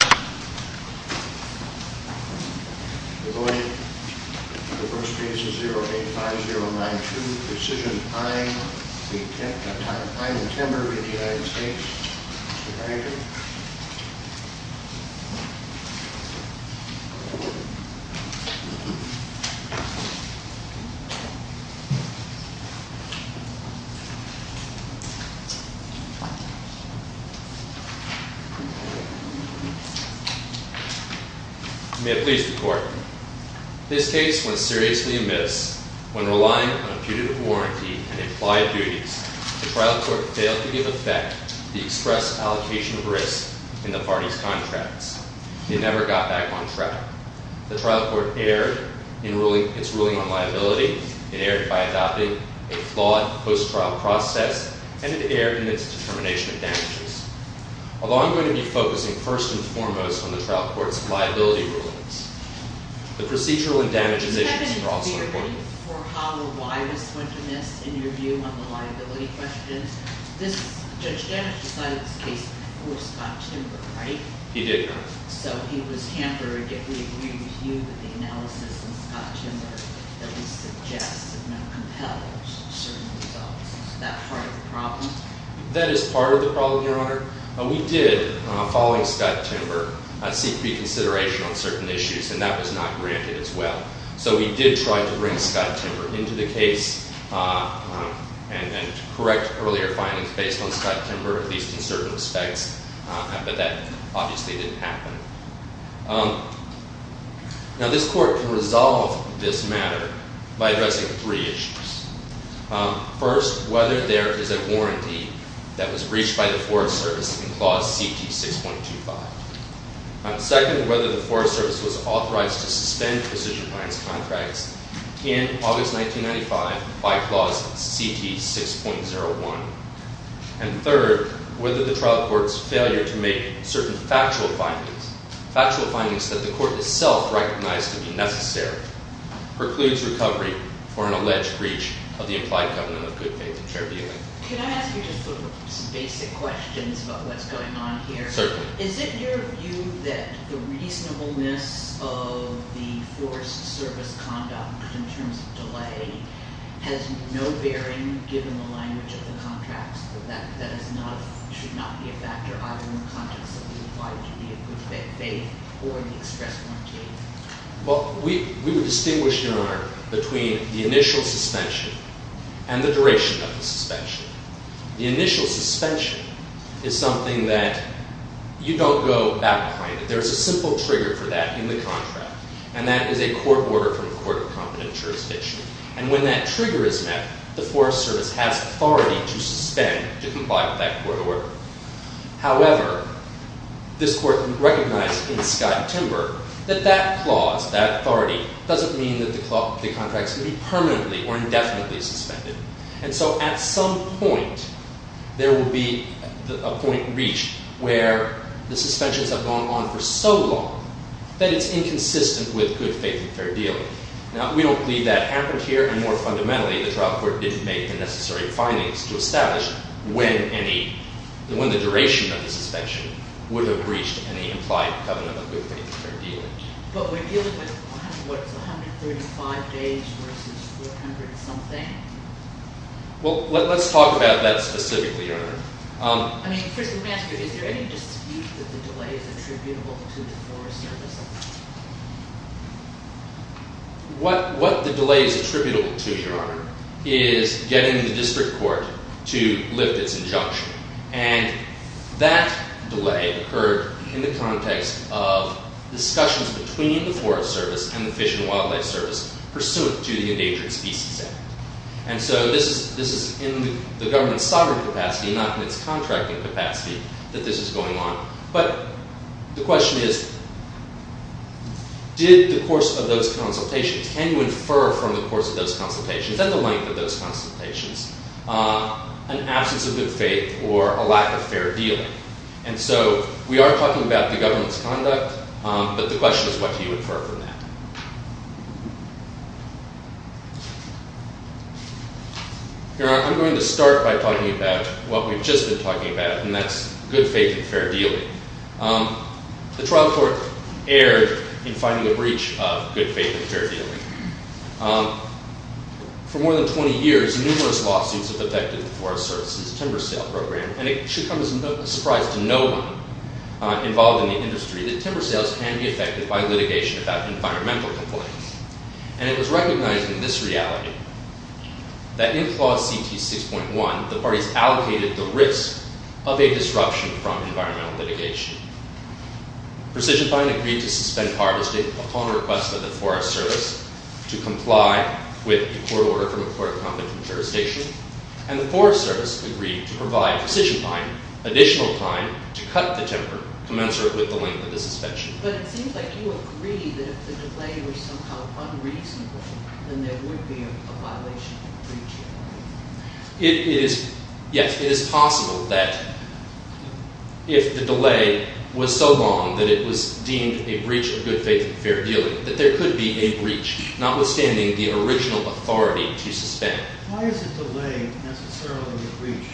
Deployed in the first case is 085092, precision pine v. Timber v. United States. May I please report? This case was seriously amiss. When relying on a putative warranty and implied duties, the trial court failed to give effect to the express allocation of risk in the parties' contracts. It never got back on track. The trial court erred in its ruling on liability. It erred by adopting a flawed post-trial process, and it erred in its determination of damages. Although I'm going to be focusing first and foremost on the trial court's liability rulings, the procedural and damages issues are also important. You haven't been for how or why this went amiss in your view on the liability questions. Judge Danish decided this case was Scott Timber, right? He did not. So he was hampered, yet we agree with you that the analysis was Scott Timber, that he suggests had not compelled certain results. Is that part of the problem? That is part of the problem, Your Honor. We did, following Scott Timber, seek reconsideration on certain issues, and that was not granted as well. So we did try to bring Scott Timber into the case and correct earlier findings based on Scott Timber, at least in certain respects, but that obviously didn't happen. Now, this court can resolve this matter by addressing three issues. First, whether there is a warranty that was breached by the Forest Service in Clause CT 6.25. Second, whether the Forest Service was authorized to suspend precision blinds contracts in August 1995 by Clause CT 6.01. And third, whether the trial court's failure to make certain factual findings, factual findings that the court itself recognized to be necessary, precludes recovery for an alleged breach of the implied covenant of good faith and fair dealing. Can I ask you just sort of some basic questions about what's going on here? Certainly. Is it your view that the reasonableness of the Forest Service conduct in terms of delay has no bearing, given the language of the contracts, that that is not, should not be a factor either in the context of the implied covenant of good faith or the express warranty? Well, we would distinguish, Your Honor, between the initial suspension and the duration of the suspension. The initial suspension is something that you don't go back behind it. There is a simple trigger for that in the contract, and that is a court order from the Court of Competent Jurisdiction. And when that trigger is met, the Forest Service has authority to suspend to comply with that court order. However, this court recognized in Scott and Timber that that clause, that authority, doesn't mean that the contract's going to be permanently or indefinitely suspended. And so at some point, there will be a point reached where the suspensions have gone on for so long that it's inconsistent with good faith and fair dealing. Now, we don't believe that happened here. And more fundamentally, the trial court didn't make the necessary findings to establish when the duration of the suspension would have breached any implied covenant of good faith and fair dealing. But we're dealing with, what, 135 days versus 400-something? Well, let's talk about that specifically, Your Honor. I mean, first, let me ask you, is there any dispute that the delay is attributable to the Forest Service? What the delay is attributable to, Your Honor, is getting the district court to lift its injunction. And that delay occurred in the context of discussions between the Forest Service and the Fish and Wildlife Service pursuant to the Endangered Species Act. And so this is in the government's sovereign capacity, not in its contracting capacity, that this is going on. But the question is, did the course of those consultations, can you infer from the course of those consultations and the length of those consultations an absence of good faith or a lack of fair dealing? And so we are talking about the government's conduct, but the question is, what do you infer from that? Your Honor, I'm going to start by talking about what we've just been talking about, and that's good faith and fair dealing. The trial court erred in finding a breach of good faith and fair dealing. For more than 20 years, numerous lawsuits have affected the Forest Service's timber sale program. And it should come as no surprise to no one involved in the industry that timber sales can be affected by litigation about environmental complaints. And it was recognized in this reality that in Clause CT 6.1, the parties allocated the risk of a disruption from environmental litigation. Precision Fine agreed to suspend harvesting upon request of the Forest Service to comply with the court order from the Court of Competent Jurisdiction. And the Forest Service agreed to provide Precision Fine additional time to cut the timber commensurate with the length of the suspension. But it seems like you agree that if the delay was somehow unreasonable, then there would be a violation of the breach. Yes, it is possible that if the delay was so long that it was deemed a breach of good faith and fair dealing, that there could be a breach, notwithstanding the original authority to suspend. Why is a delay necessarily a breach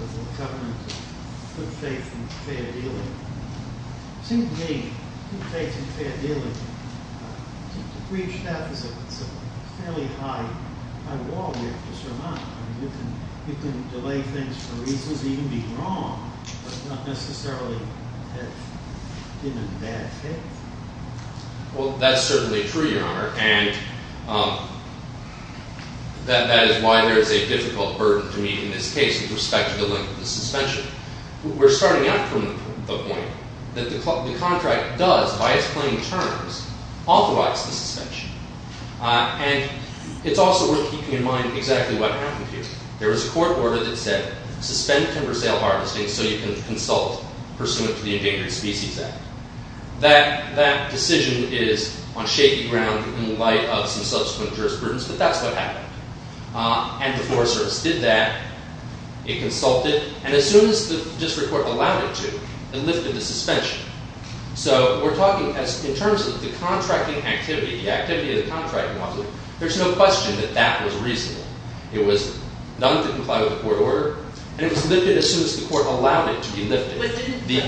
of a covenant of good faith and fair dealing? To me, good faith and fair dealing, to breach that is a fairly high wall you have to surmount. You can delay things for reasons that even be wrong, but not necessarily have been in bad faith. Well, that's certainly true, Your Honor, and that is why there is a difficult burden to meet in this case with respect to the length of the suspension. We're starting out from the point that the contract does, by its plain terms, authorize the suspension. And it's also worth keeping in mind exactly what happened here. There was a court order that said suspend timber sale harvesting so you can consult pursuant to the Endangered Species Act. That decision is on shaky ground in light of some subsequent jurisprudence, but that's what happened. And the floor service did that. It consulted, and as soon as the district court allowed it to, it lifted the suspension. So we're talking in terms of the contracting activity, the activity of the contracting model, there's no question that that was reasonable. It was done to comply with the court order, and it was lifted as soon as the court allowed it to be lifted. But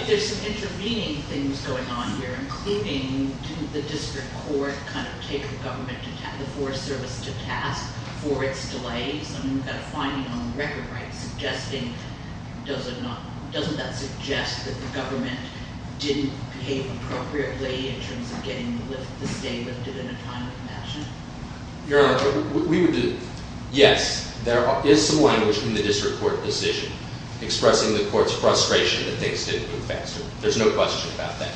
there's some intervening things going on here, including didn't the district court kind of take the government to task, the floor service to task, for its delays? I mean, we've got a finding on the record, right, suggesting doesn't that suggest that the government didn't behave appropriately in terms of getting the stay lifted in a timely fashion? Your Honor, we would do that. Yes, there is some language in the district court decision expressing the court's frustration that things didn't move faster. There's no question about that.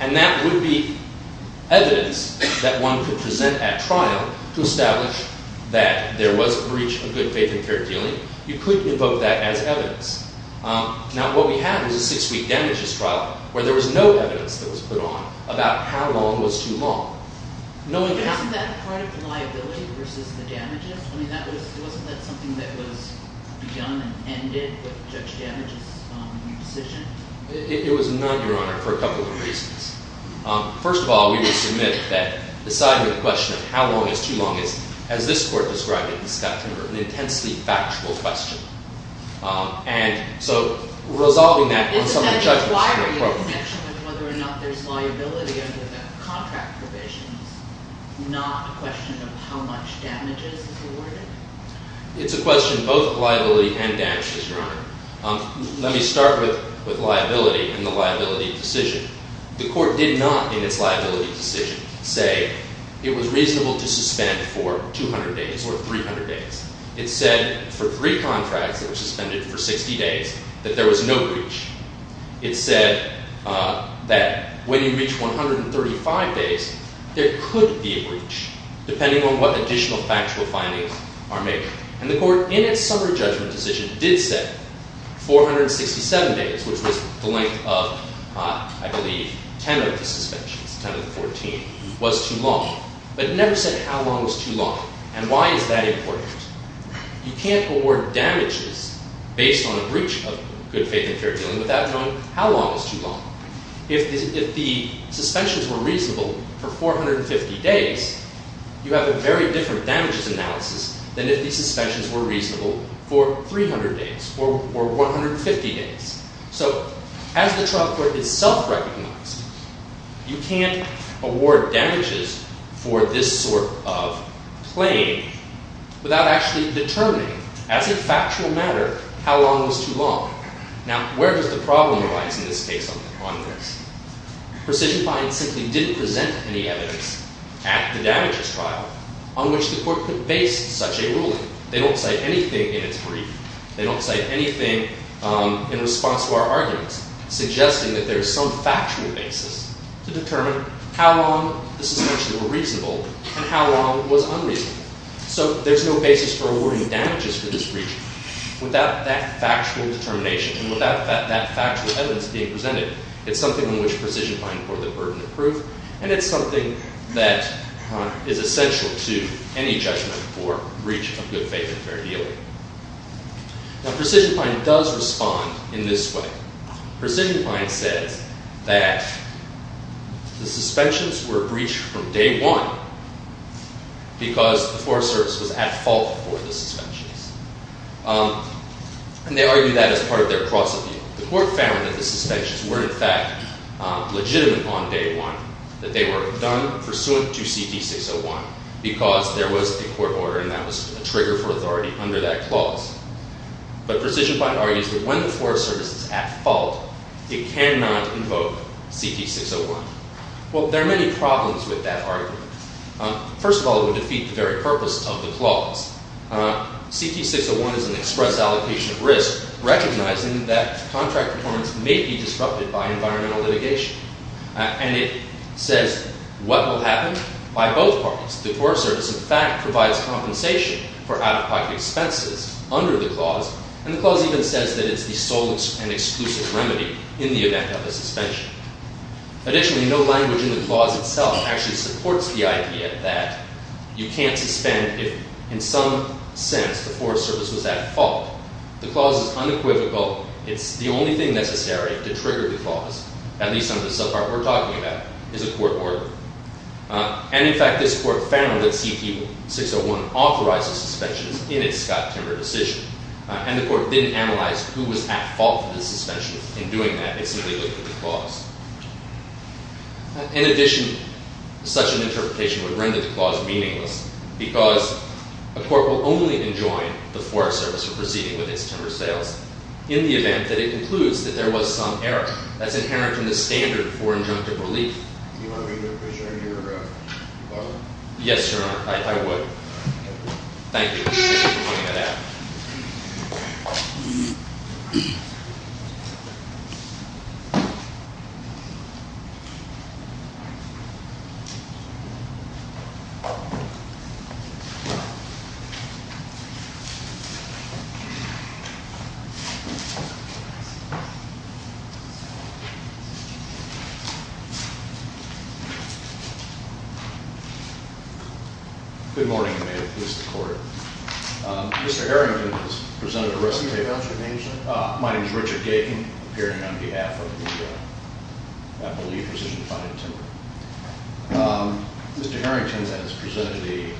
And that would be evidence that one could present at trial to establish that there was a breach of good faith and fair dealing. You could invoke that as evidence. Now, what we have is a six-week damages trial where there was no evidence that was put on about how long was too long. Isn't that part of the liability versus the damages? I mean, wasn't that something that was begun and ended with Judge Damages' decision? It was not, Your Honor, for a couple of reasons. First of all, we would submit that deciding the question of how long is too long is, as this court described it in September, an intensely factual question. And so resolving that on some of the judgments in the program. Why are you in connection with whether or not there's liability under the contract provisions, not a question of how much damages is awarded? It's a question of both liability and damages, Your Honor. Let me start with liability and the liability decision. The court did not, in its liability decision, say it was reasonable to suspend for 200 days or 300 days. It said for three contracts that were suspended for 60 days that there was no breach. It said that when you reach 135 days, there could be a breach, depending on what additional factual findings are made. And the court, in its summary judgment decision, did say 467 days, which was the length of, I believe, 10 of the suspensions, 10 of the 14, was too long. But it never said how long was too long. And why is that important? You can't award damages based on a breach of good faith and fair dealing without knowing how long is too long. If the suspensions were reasonable for 450 days, you have a very different damages analysis than if the suspensions were reasonable for 300 days or 150 days. So as the trial court is self-recognized, you can't award damages for this sort of claim without actually determining, as a factual matter, how long was too long. Now, where does the problem arise in this case on this? Precision fines simply didn't present any evidence at the damages trial on which the court could base such a ruling. They don't cite anything in its brief. They don't cite anything in response to our arguments, suggesting that there is some factual basis to determine how long the suspensions were reasonable and how long was unreasonable. So there's no basis for awarding damages for this breach without that factual determination and without that factual evidence being presented. It's something on which precision fines were the burden of proof. And it's something that is essential to any judgment for breach of good faith and fair dealing. Now, precision fine does respond in this way. Precision fine says that the suspensions were breached from day one because the Forest Service was at fault for the suspensions. And they argue that as part of their cross-review. The court found that the suspensions were, in fact, legitimate on day one, that they were done pursuant to CT-601 because there was a court order and that was a trigger for authority under that clause. But precision fine argues that when the Forest Service is at fault, it cannot invoke CT-601. Well, there are many problems with that argument. First of all, it would defeat the very purpose of the clause. CT-601 is an express allocation of risk, recognizing that contract performance may be disrupted by environmental litigation. And it says what will happen by both parties. The Forest Service, in fact, provides compensation for out-of-pocket expenses under the clause. And the clause even says that it's the sole and exclusive remedy in the event of a suspension. Additionally, no language in the clause itself actually supports the idea that you can't suspend if, in some sense, the Forest Service was at fault. The clause is unequivocal. It's the only thing necessary to trigger the clause, at least under the subpart we're talking about, is a court order. And, in fact, this court found that CT-601 authorizes suspensions in its Scott-Timmer decision. And the court didn't analyze who was at fault for the suspension in doing that. It simply looked at the clause. In addition, such an interpretation would render the clause meaningless, because a court will only enjoin the Forest Service from proceeding with its Timmer sales in the event that it concludes that there was some error. That's inherent in the standard for injunctive relief. Do you want to make a motion or a vote? Yes, sir. I would. Thank you. Thank you for pointing that out. Good morning, and may it please the court. Mr. Harrington has presented a recitation- Can you tell us your name, sir? My name is Richard Gaykin, appearing on behalf of the, I believe, precision-finding Timmer. Mr. Harrington has presented a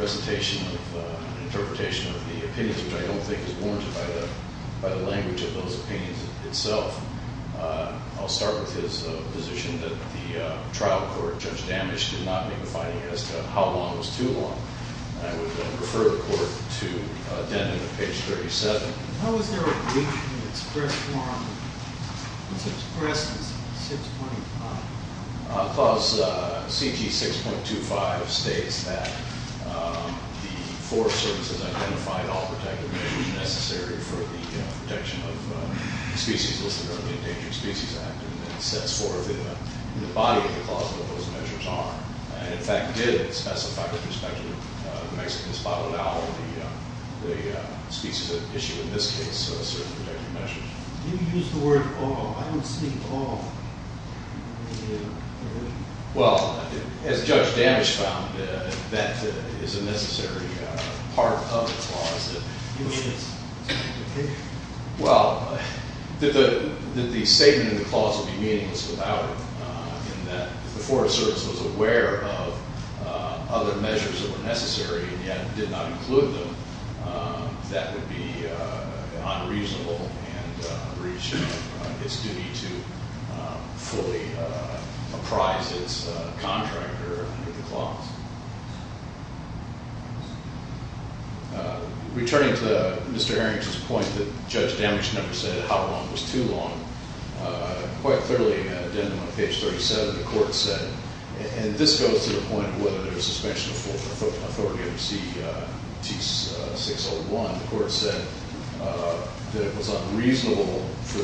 recitation of an interpretation of the opinions, which I don't think is warranted by the language of those opinions itself. I'll start with his position that the trial court, Judge Damage, did not make a finding as to how long was too long. I would refer the court to Denden at page 37. How is there a breach in the express form? It's expressed as 6.5. Clause CT 6.25 states that the Forest Service has identified all protective measures necessary for the protection of species listed under the Endangered Species Act. And it sets forth in the body of the clause what those measures are. And, in fact, did specify with respect to the Mexican spotted owl, the species at issue in this case, certain protective measures. You used the word all. I don't see all. Well, as Judge Damage found, that is a necessary part of the clause. Well, the statement in the clause would be meaningless without it, in that if the Forest Service was aware of other measures that were necessary and yet did not include them, that would be unreasonable and breach its duty to fully apprise its contractor under the clause. Returning to Mr. Herrington's point that Judge Damage never said how long was too long, quite clearly, at the end of page 37, the court said, and this goes to the point of whether there was suspension of authority under CT 601, the court said that it was unreasonable for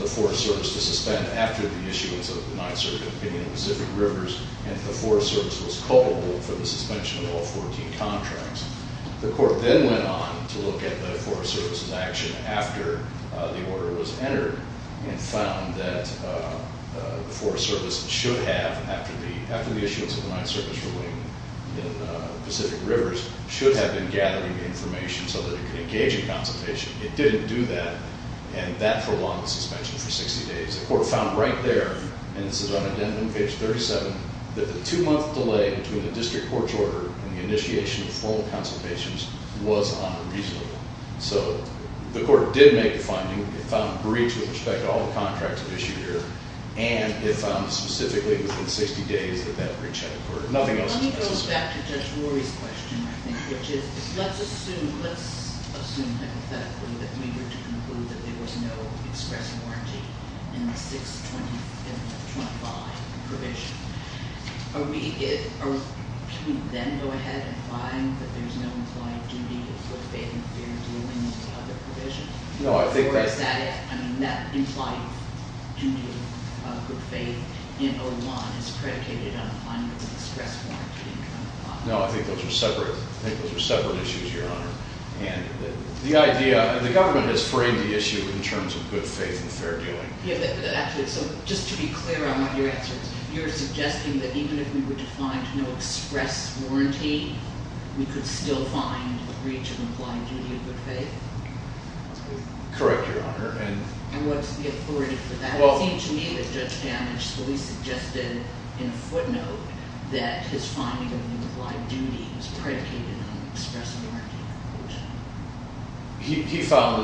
the Forest Service to suspend after the issuance of the Ninth Circuit opinion on Pacific Rivers and that the Forest Service was culpable for the suspension of all 14 contracts. The court then went on to look at the Forest Service's action after the order was entered and found that the Forest Service should have, after the issuance of the Ninth Circuit opinion on Pacific Rivers, should have been gathering information so that it could engage in consultation. It didn't do that, and that prolonged the suspension for 60 days. The court found right there, and this is on addendum page 37, that the two-month delay between the district court's order and the initiation of formal consultations was unreasonable. So the court did make the finding. It found a breach with respect to all the contracts issued here, and it found specifically within 60 days that that breach had occurred. Nothing else was necessary. Let me go back to Judge Rory's question, I think, which is, let's assume, let's assume hypothetically that we were to conclude that there was no express warranty. In the 625 provision, are we, can we then go ahead and find that there's no implied duty of good faith and fair due in the other provision? Or is that, I mean, that implied duty of good faith in 01 is predicated on finding an express warranty in 01? No, I think those are separate. I think those are separate issues, Your Honor. And the idea, and the government has framed the issue in terms of good faith and fair doing. Actually, so just to be clear on what your answer is, you're suggesting that even if we were to find no express warranty, we could still find a breach of implied duty of good faith? Correct, Your Honor. And what's the authority for that? It seemed to me that Judge Damage fully suggested in a footnote that his finding of an implied duty was predicated on an express warranty. He found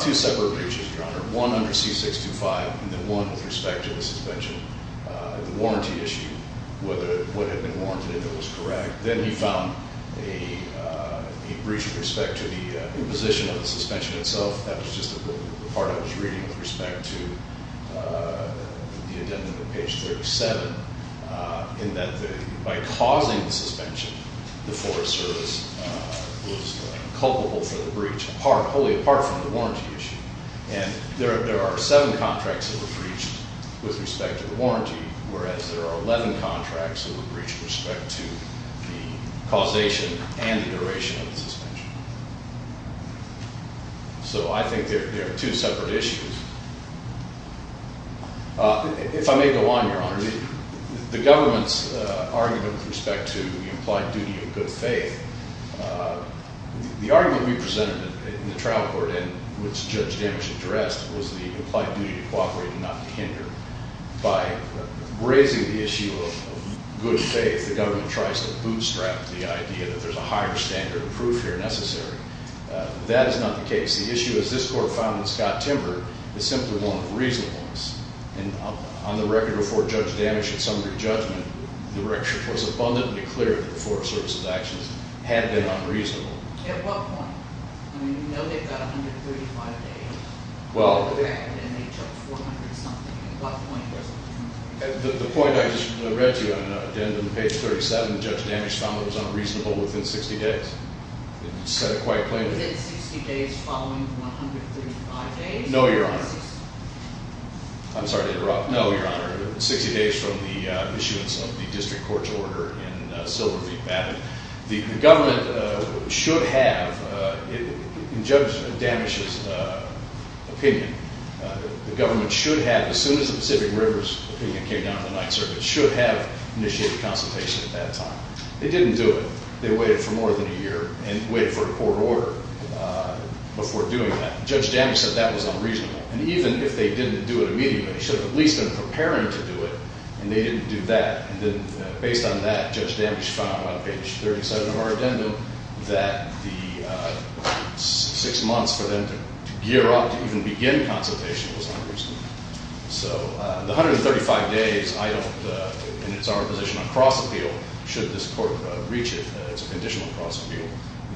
two separate breaches, Your Honor. One under C625, and then one with respect to the suspension, the warranty issue, whether what had been warranted was correct. Then he found a breach with respect to the position of the suspension itself. That was just the part I was reading with respect to the indentment on page 37, in that by causing the suspension, the Forest Service was culpable for the breach, wholly apart from the warranty issue. And there are seven contracts that were breached with respect to the warranty, whereas there are 11 contracts that were breached with respect to the causation and the duration of the suspension. So I think there are two separate issues. If I may go on, Your Honor, the government's argument with respect to the implied duty of good faith, the argument we presented in the trial court and which Judge Damage addressed was the implied duty to cooperate and not to hinder. By raising the issue of good faith, the government tries to bootstrap the idea that there's a higher standard of proof here necessary. That is not the case. The issue, as this court found in Scott-Timber, is simply one of reasonableness. And on the record before Judge Damage had summed her judgment, the record was abundantly clear that the Forest Service's actions had been unreasonable. At what point? I mean, you know they've got 135 days. Well. And they judged 400-something. At what point was it? The point I just read to you. At the end of page 37, Judge Damage found it was unreasonable within 60 days. It said it quite plainly. Within 60 days following 135 days? No, Your Honor. I'm sorry to interrupt. No, Your Honor. 60 days from the issuance of the district court's order in Silver Creek. The government should have, in Judge Damage's opinion, the government should have, as soon as the Pacific River's opinion came down in the Ninth Circuit, should have initiated consultation at that time. They didn't do it. They waited for more than a year and waited for a court order before doing that. Judge Damage said that was unreasonable. And even if they didn't do it immediately, they should have at least been preparing to do it, and they didn't do that. And then based on that, Judge Damage found on page 37 of our addendum that the six months for them to gear up to even begin consultation was unreasonable. So the 135 days, I don't, and it's our position on cross-appeal, should this court reach it, it's a conditional cross-appeal,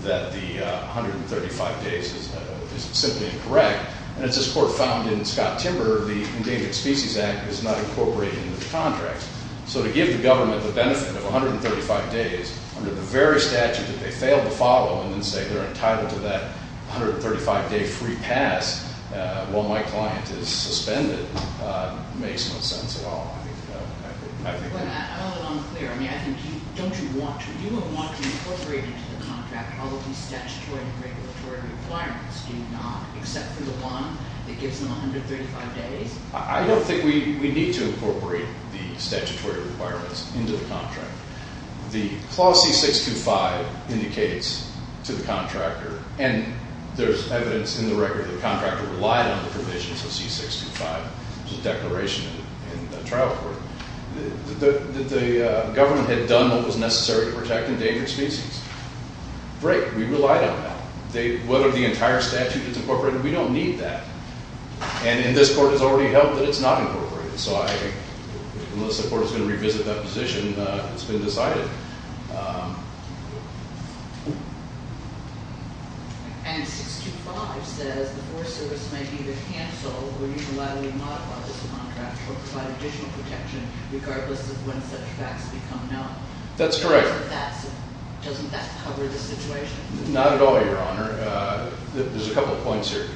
that the 135 days is simply incorrect. And as this court found in Scott Timber, the Endangered Species Act is not incorporated in the contract. So to give the government the benefit of 135 days under the very statute that they failed to follow and then say they're entitled to that 135-day free pass while my client is suspended, makes no sense at all. I don't know that I'm clear. I mean, I think you, don't you want to, you would want to incorporate into the contract all of these statutory and regulatory requirements, do you not, except for the one that gives them 135 days? I don't think we need to incorporate the statutory requirements into the contract. The Clause C-625 indicates to the contractor, and there's evidence in the record that the contractor relied on the provisions of C-625, there's a declaration in the trial court, that the government had done what was necessary to protect endangered species. Great, we relied on that. Whether the entire statute is incorporated, we don't need that. And in this court, it's already held that it's not incorporated. So unless the court is going to revisit that position, it's been decided. And C-625 says the Forest Service may either cancel or unilaterally modify this contract or provide additional protection regardless of when such facts become known. That's correct. Doesn't that cover the situation? Not at all, Your Honor. There's a couple of points here.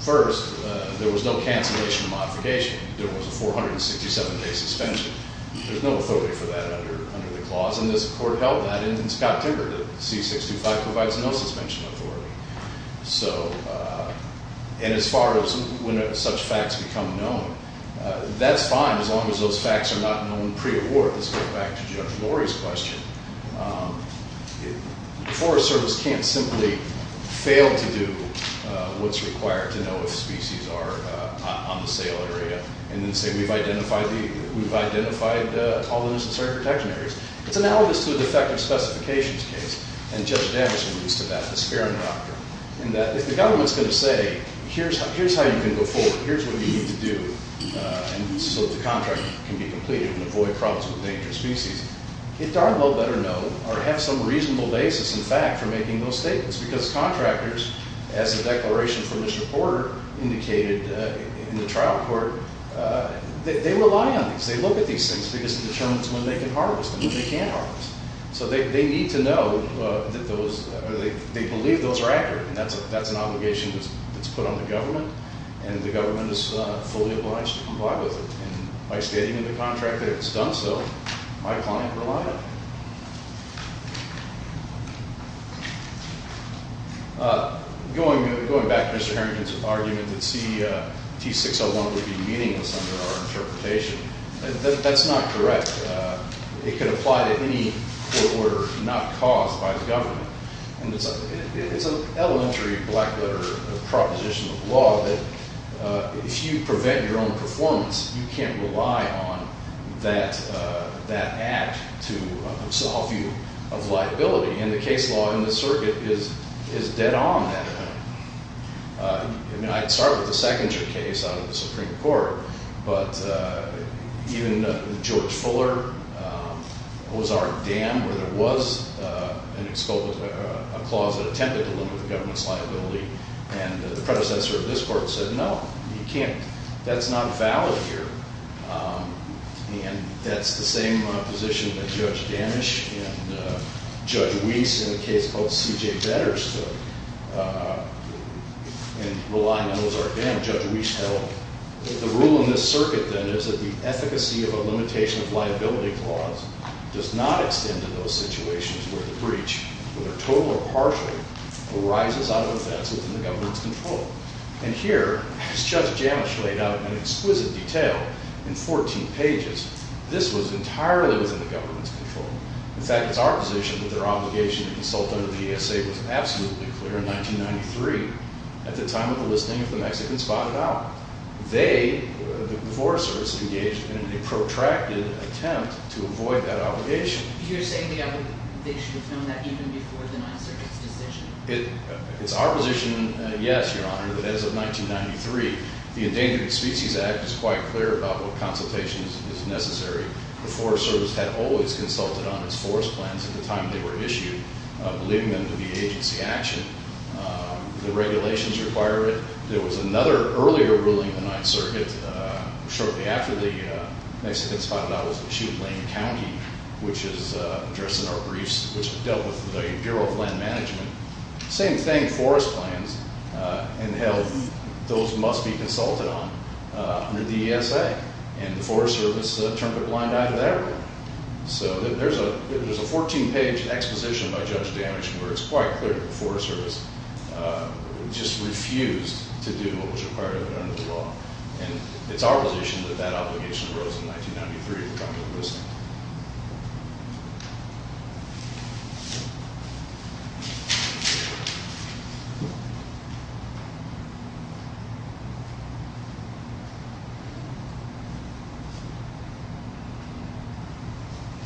First, there was no cancellation of modification. There was a 467-day suspension. There's no authority for that under the clause, and this court held that in Scott-Timber. The C-625 provides no suspension authority. So, and as far as when such facts become known, that's fine as long as those facts are not known pre-award. Let's go back to Judge Lori's question. The Forest Service can't simply fail to do what's required to know if species are on the sale area and then say, we've identified all the necessary protection areas. It's analogous to a defective specifications case, and Judge Danvers alludes to that, the Sparing Doctrine, in that if the government's going to say, here's how you can go forward, here's what you need to do so that the contract can be completed and avoid problems with dangerous species, it darn well better know or have some reasonable basis in fact for making those statements because contractors, as the declaration from Mr. Porter indicated in the trial court, they rely on these. They look at these things because it determines when they can harvest and when they can't harvest. So they need to know that those, or they believe those are accurate, and that's an obligation that's put on the government, and the government is fully obliged to comply with it. And by stating in the contract that it's done so, my client relied on it. Going back to Mr. Harrington's argument that CT601 would be meaningless under our interpretation, that's not correct. It could apply to any court order not caused by the government, and it's an elementary black-letter proposition of law that if you prevent your own performance, you can't rely on that act to absolve you of liability, and the case law in this circuit is dead on that. I'd start with the Sechinger case out of the Supreme Court, but even George Fuller, Ozark Dam, where there was a clause that attempted to limit the government's liability, and the predecessor of this court said, No, you can't. That's not valid here, and that's the same position that Judge Danish and Judge Weiss in a case called C.J. Vedders took, and relying on Ozark Dam, Judge Weiss held. The rule in this circuit, then, is that the efficacy of a limitation of liability clause does not extend to those situations where the breach, whether total or partial, arises out of offense within the government's control. And here, as Judge Danish laid out in exquisite detail in 14 pages, this was entirely within the government's control. In fact, it's our position that their obligation to consult under the ESA was absolutely clear in 1993 at the time of the listing of the Mexicans spotted out. They, the divorcees, engaged in a protracted attempt to avoid that obligation. You're saying they should have known that even before the Ninth Circuit's decision? It's our position, yes, Your Honor, that as of 1993, the Endangered Species Act is quite clear about what consultation is necessary. The Forest Service had always consulted on its forest plans at the time they were issued, believing them to be agency action. The regulations require it. There was another earlier ruling in the Ninth Circuit shortly after the Mexicans spotted out issued Lane County, which is addressed in our briefs, which dealt with the Bureau of Land Management. Same thing, forest plans and health, those must be consulted on under the ESA. And the Forest Service turned a blind eye to that ruling. So there's a 14-page exposition by Judge Danish where it's quite clear that the Forest Service just refused to do what was required of it under the law. And it's our position that that obligation arose in 1993.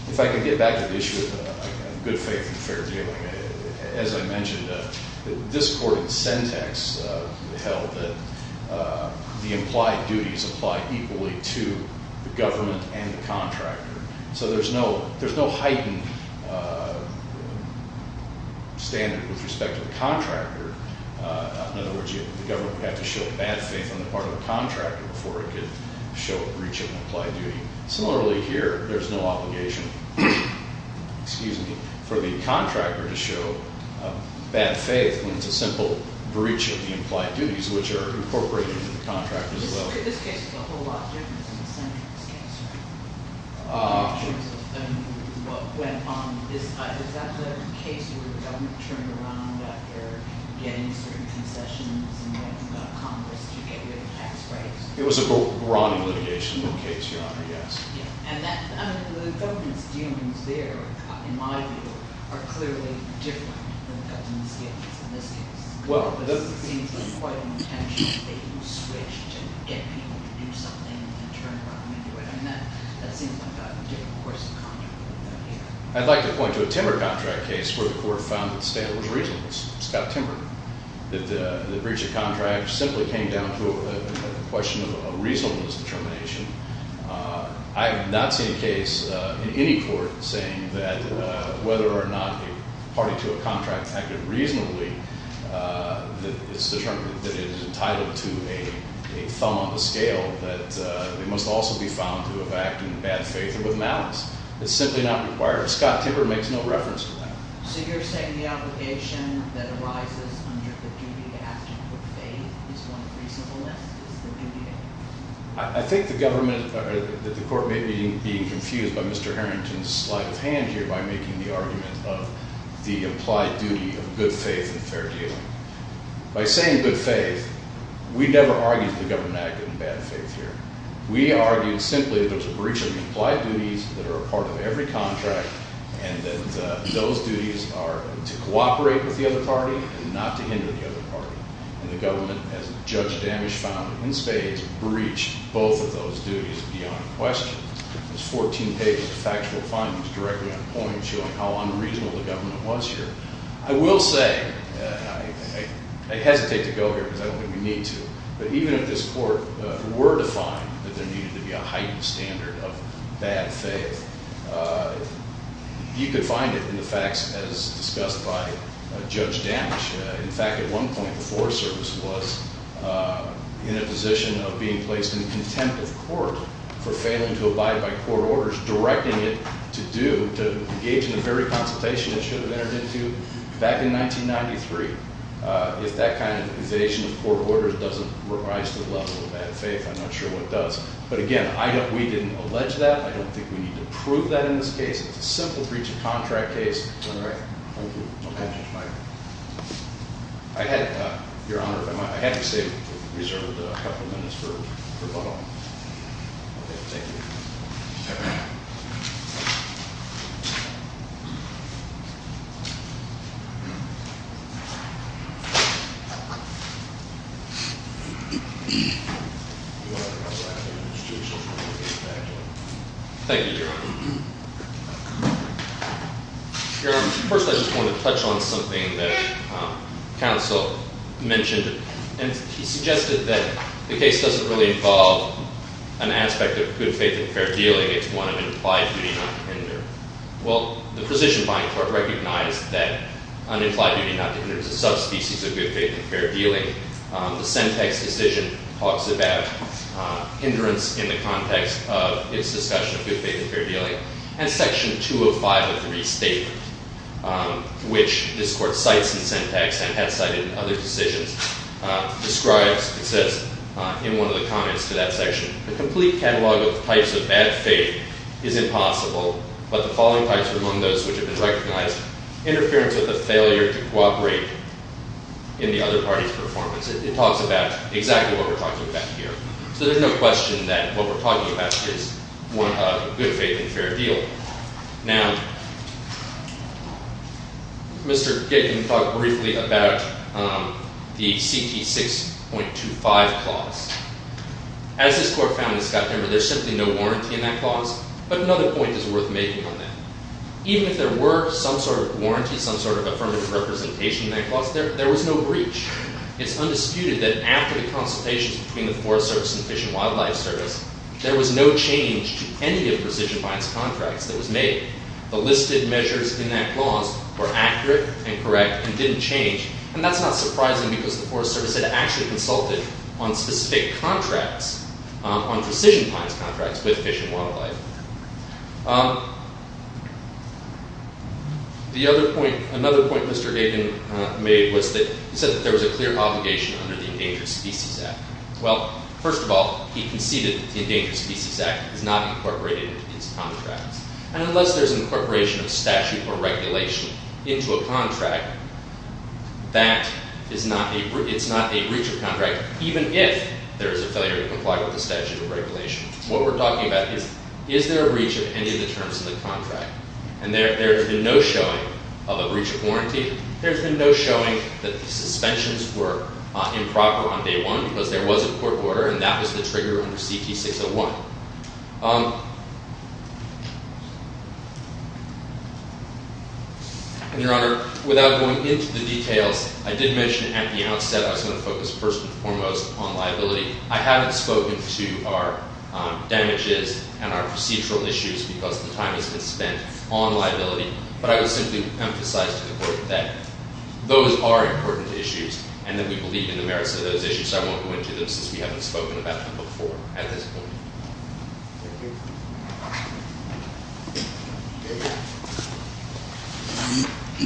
If I can get back to the issue of good faith and fair dealing, as I mentioned, this court in Sentex held that the implied duties apply equally to the government and the contractor. So there's no heightened standard with respect to the contractor. In other words, the government would have to show bad faith on the part of the contractor before it could reach an implied duty. Similarly here, there's no obligation for the contractor to show bad faith when it's a simple breach of the implied duties, which are incorporated into the contract as well. This case is a whole lot different than the Sentex case, right? In terms of what went on. Is that the case where the government turned around after getting certain concessions and getting Congress to get rid of tax breaks? It was a brawny litigation case, Your Honor, yes. And the government's dealings there, in my view, are clearly different than the government's dealings in this case. It seems like quite an intentional thing to switch and get people to do something and turn around and do it. And that seems like a different course of conduct than what we have here. I'd like to point to a timber contract case where the court found that the standard was reasonable. It's got timber. The breach of contract simply came down to a question of a reasonableness determination. I have not seen a case in any court saying that whether or not a party to a contract acted reasonably, that it is entitled to a thumb on the scale, that it must also be found to have acted in bad faith or with malice. It's simply not required. Scott Timber makes no reference to that. So you're saying the obligation that arises under the duty to act in good faith is one of reasonableness? I think the government or that the court may be being confused by Mr. Harrington's sleight of hand here by making the argument of the implied duty of good faith and fair dealing. By saying good faith, we never argued the government acted in bad faith here. We argued simply that there's a breach of implied duties that are a part of every contract and that those duties are to cooperate with the other party and not to hinder the other party. And the government, as Judge Damisch found in spades, breached both of those duties beyond question. There's 14 pages of factual findings directly on point showing how unreasonable the government was here. I will say, I hesitate to go here because I don't think we need to, but even if this court were to find that there needed to be a heightened standard of bad faith, you could find it in the facts as discussed by Judge Damisch. In fact, at one point, the Forest Service was in a position of being placed in contempt of court for failing to abide by court orders directing it to engage in the very consultation it should have entered into back in 1993. If that kind of evasion of court orders doesn't rise to the level of bad faith, I'm not sure what does. But again, we didn't allege that. I don't think we need to prove that in this case. It's a simple breach of contract case. All right, thank you. Okay, Judge Mike. I had, Your Honor, if I might. I had reserved a couple minutes for both of them. Okay, thank you. Thank you, Your Honor. First, I just want to touch on something that counsel mentioned, and he suggested that the case doesn't really involve an aspect of good faith and fair dealing. It's one of an implied duty not to hinder. Well, the precision-buying court recognized that unimplied duty not to hinder is a subspecies of good faith and fair dealing. The Sentex decision talks about hindrance in the context of its discussion of good faith and fair dealing. And Section 205 of the restatement, which this court cites in Sentex and has cited in other decisions, describes, it says in one of the comments to that section, the complete catalog of types of bad faith is impossible, but the following types are among those which have been recognized, interference with the failure to cooperate in the other party's performance. It talks about exactly what we're talking about here. So there's no question that what we're talking about is, one, a good faith and fair deal. Now, Mr. Gittin talked briefly about the CT 6.25 clause. As this court found in Scott-Denver, there's simply no warranty in that clause, but another point is worth making on that. Even if there were some sort of warranty, some sort of affirmative representation in that clause, there was no breach. It's undisputed that after the consultations between the Forest Service and the Fish and Wildlife Service, there was no change to any of Precision Finance contracts that was made. The listed measures in that clause were accurate and correct and didn't change, and that's not surprising because the Forest Service had actually consulted on specific contracts, The other point, another point Mr. Gittin made was that he said that there was a clear obligation under the Endangered Species Act. Well, first of all, he conceded that the Endangered Species Act is not incorporated into his contracts, and unless there's incorporation of statute or regulation into a contract, that is not a breach of contract, even if there is a failure to comply with the statute or regulation. What we're talking about is, is there a breach of any of the terms of the contract? And there's been no showing of a breach of warranty. There's been no showing that the suspensions were improper on day one because there was a court order, and that was the trigger under CT601. Your Honor, without going into the details, I did mention at the outset I was going to focus first and foremost on liability. I haven't spoken to our damages and our procedural issues because the time has been spent on liability, but I would simply emphasize to the Court that those are important issues and that we believe in the merits of those issues, so I won't go into them since we haven't spoken about them before at this point. Thank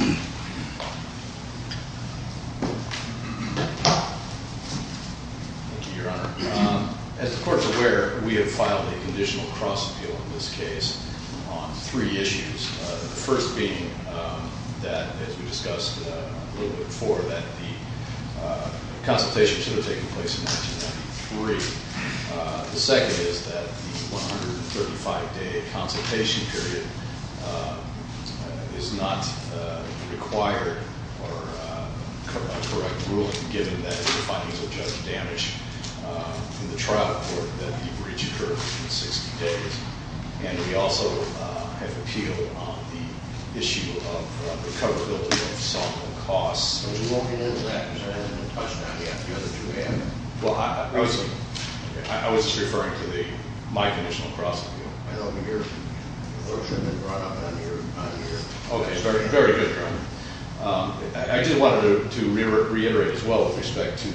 you. Thank you, Your Honor. As the Court is aware, we have filed a conditional cross-appeal in this case on three issues, the first being that, as we discussed a little bit before, that the consultation should have taken place in 1993. The second is that the 135-day consultation period is not required or a correct ruling given that the findings will judge damage in the trial report that the breach occurred within 60 days. And we also have appealed on the issue of the coverability of some of the costs. We won't get into that because we haven't touched on it yet. Well, I was just referring to my conditional cross-appeal. Okay, very good, Your Honor. I just wanted to reiterate as well with respect to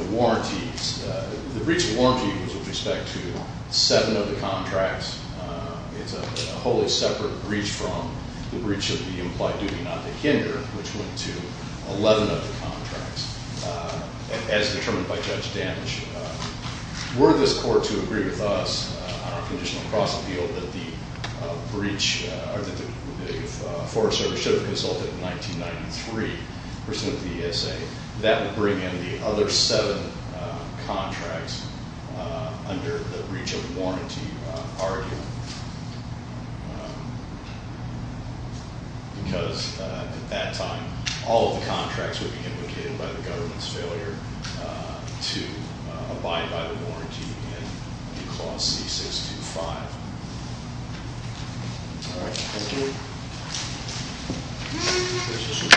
the warranties. The breach of warranty was with respect to seven of the contracts. It's a wholly separate breach from the breach of the implied duty not to hinder, which went to 11 of the contracts. As determined by Judge Damage, were this Court to agree with us on our conditional cross-appeal that the breach or that the Forest Service should have consulted in 1993 pursuant to the ESA, that would bring in the other seven contracts under the breach of warranty argument. Because at that time, all of the contracts would be implicated by the government's failure to abide by the warranty in clause C625. All right, thank you.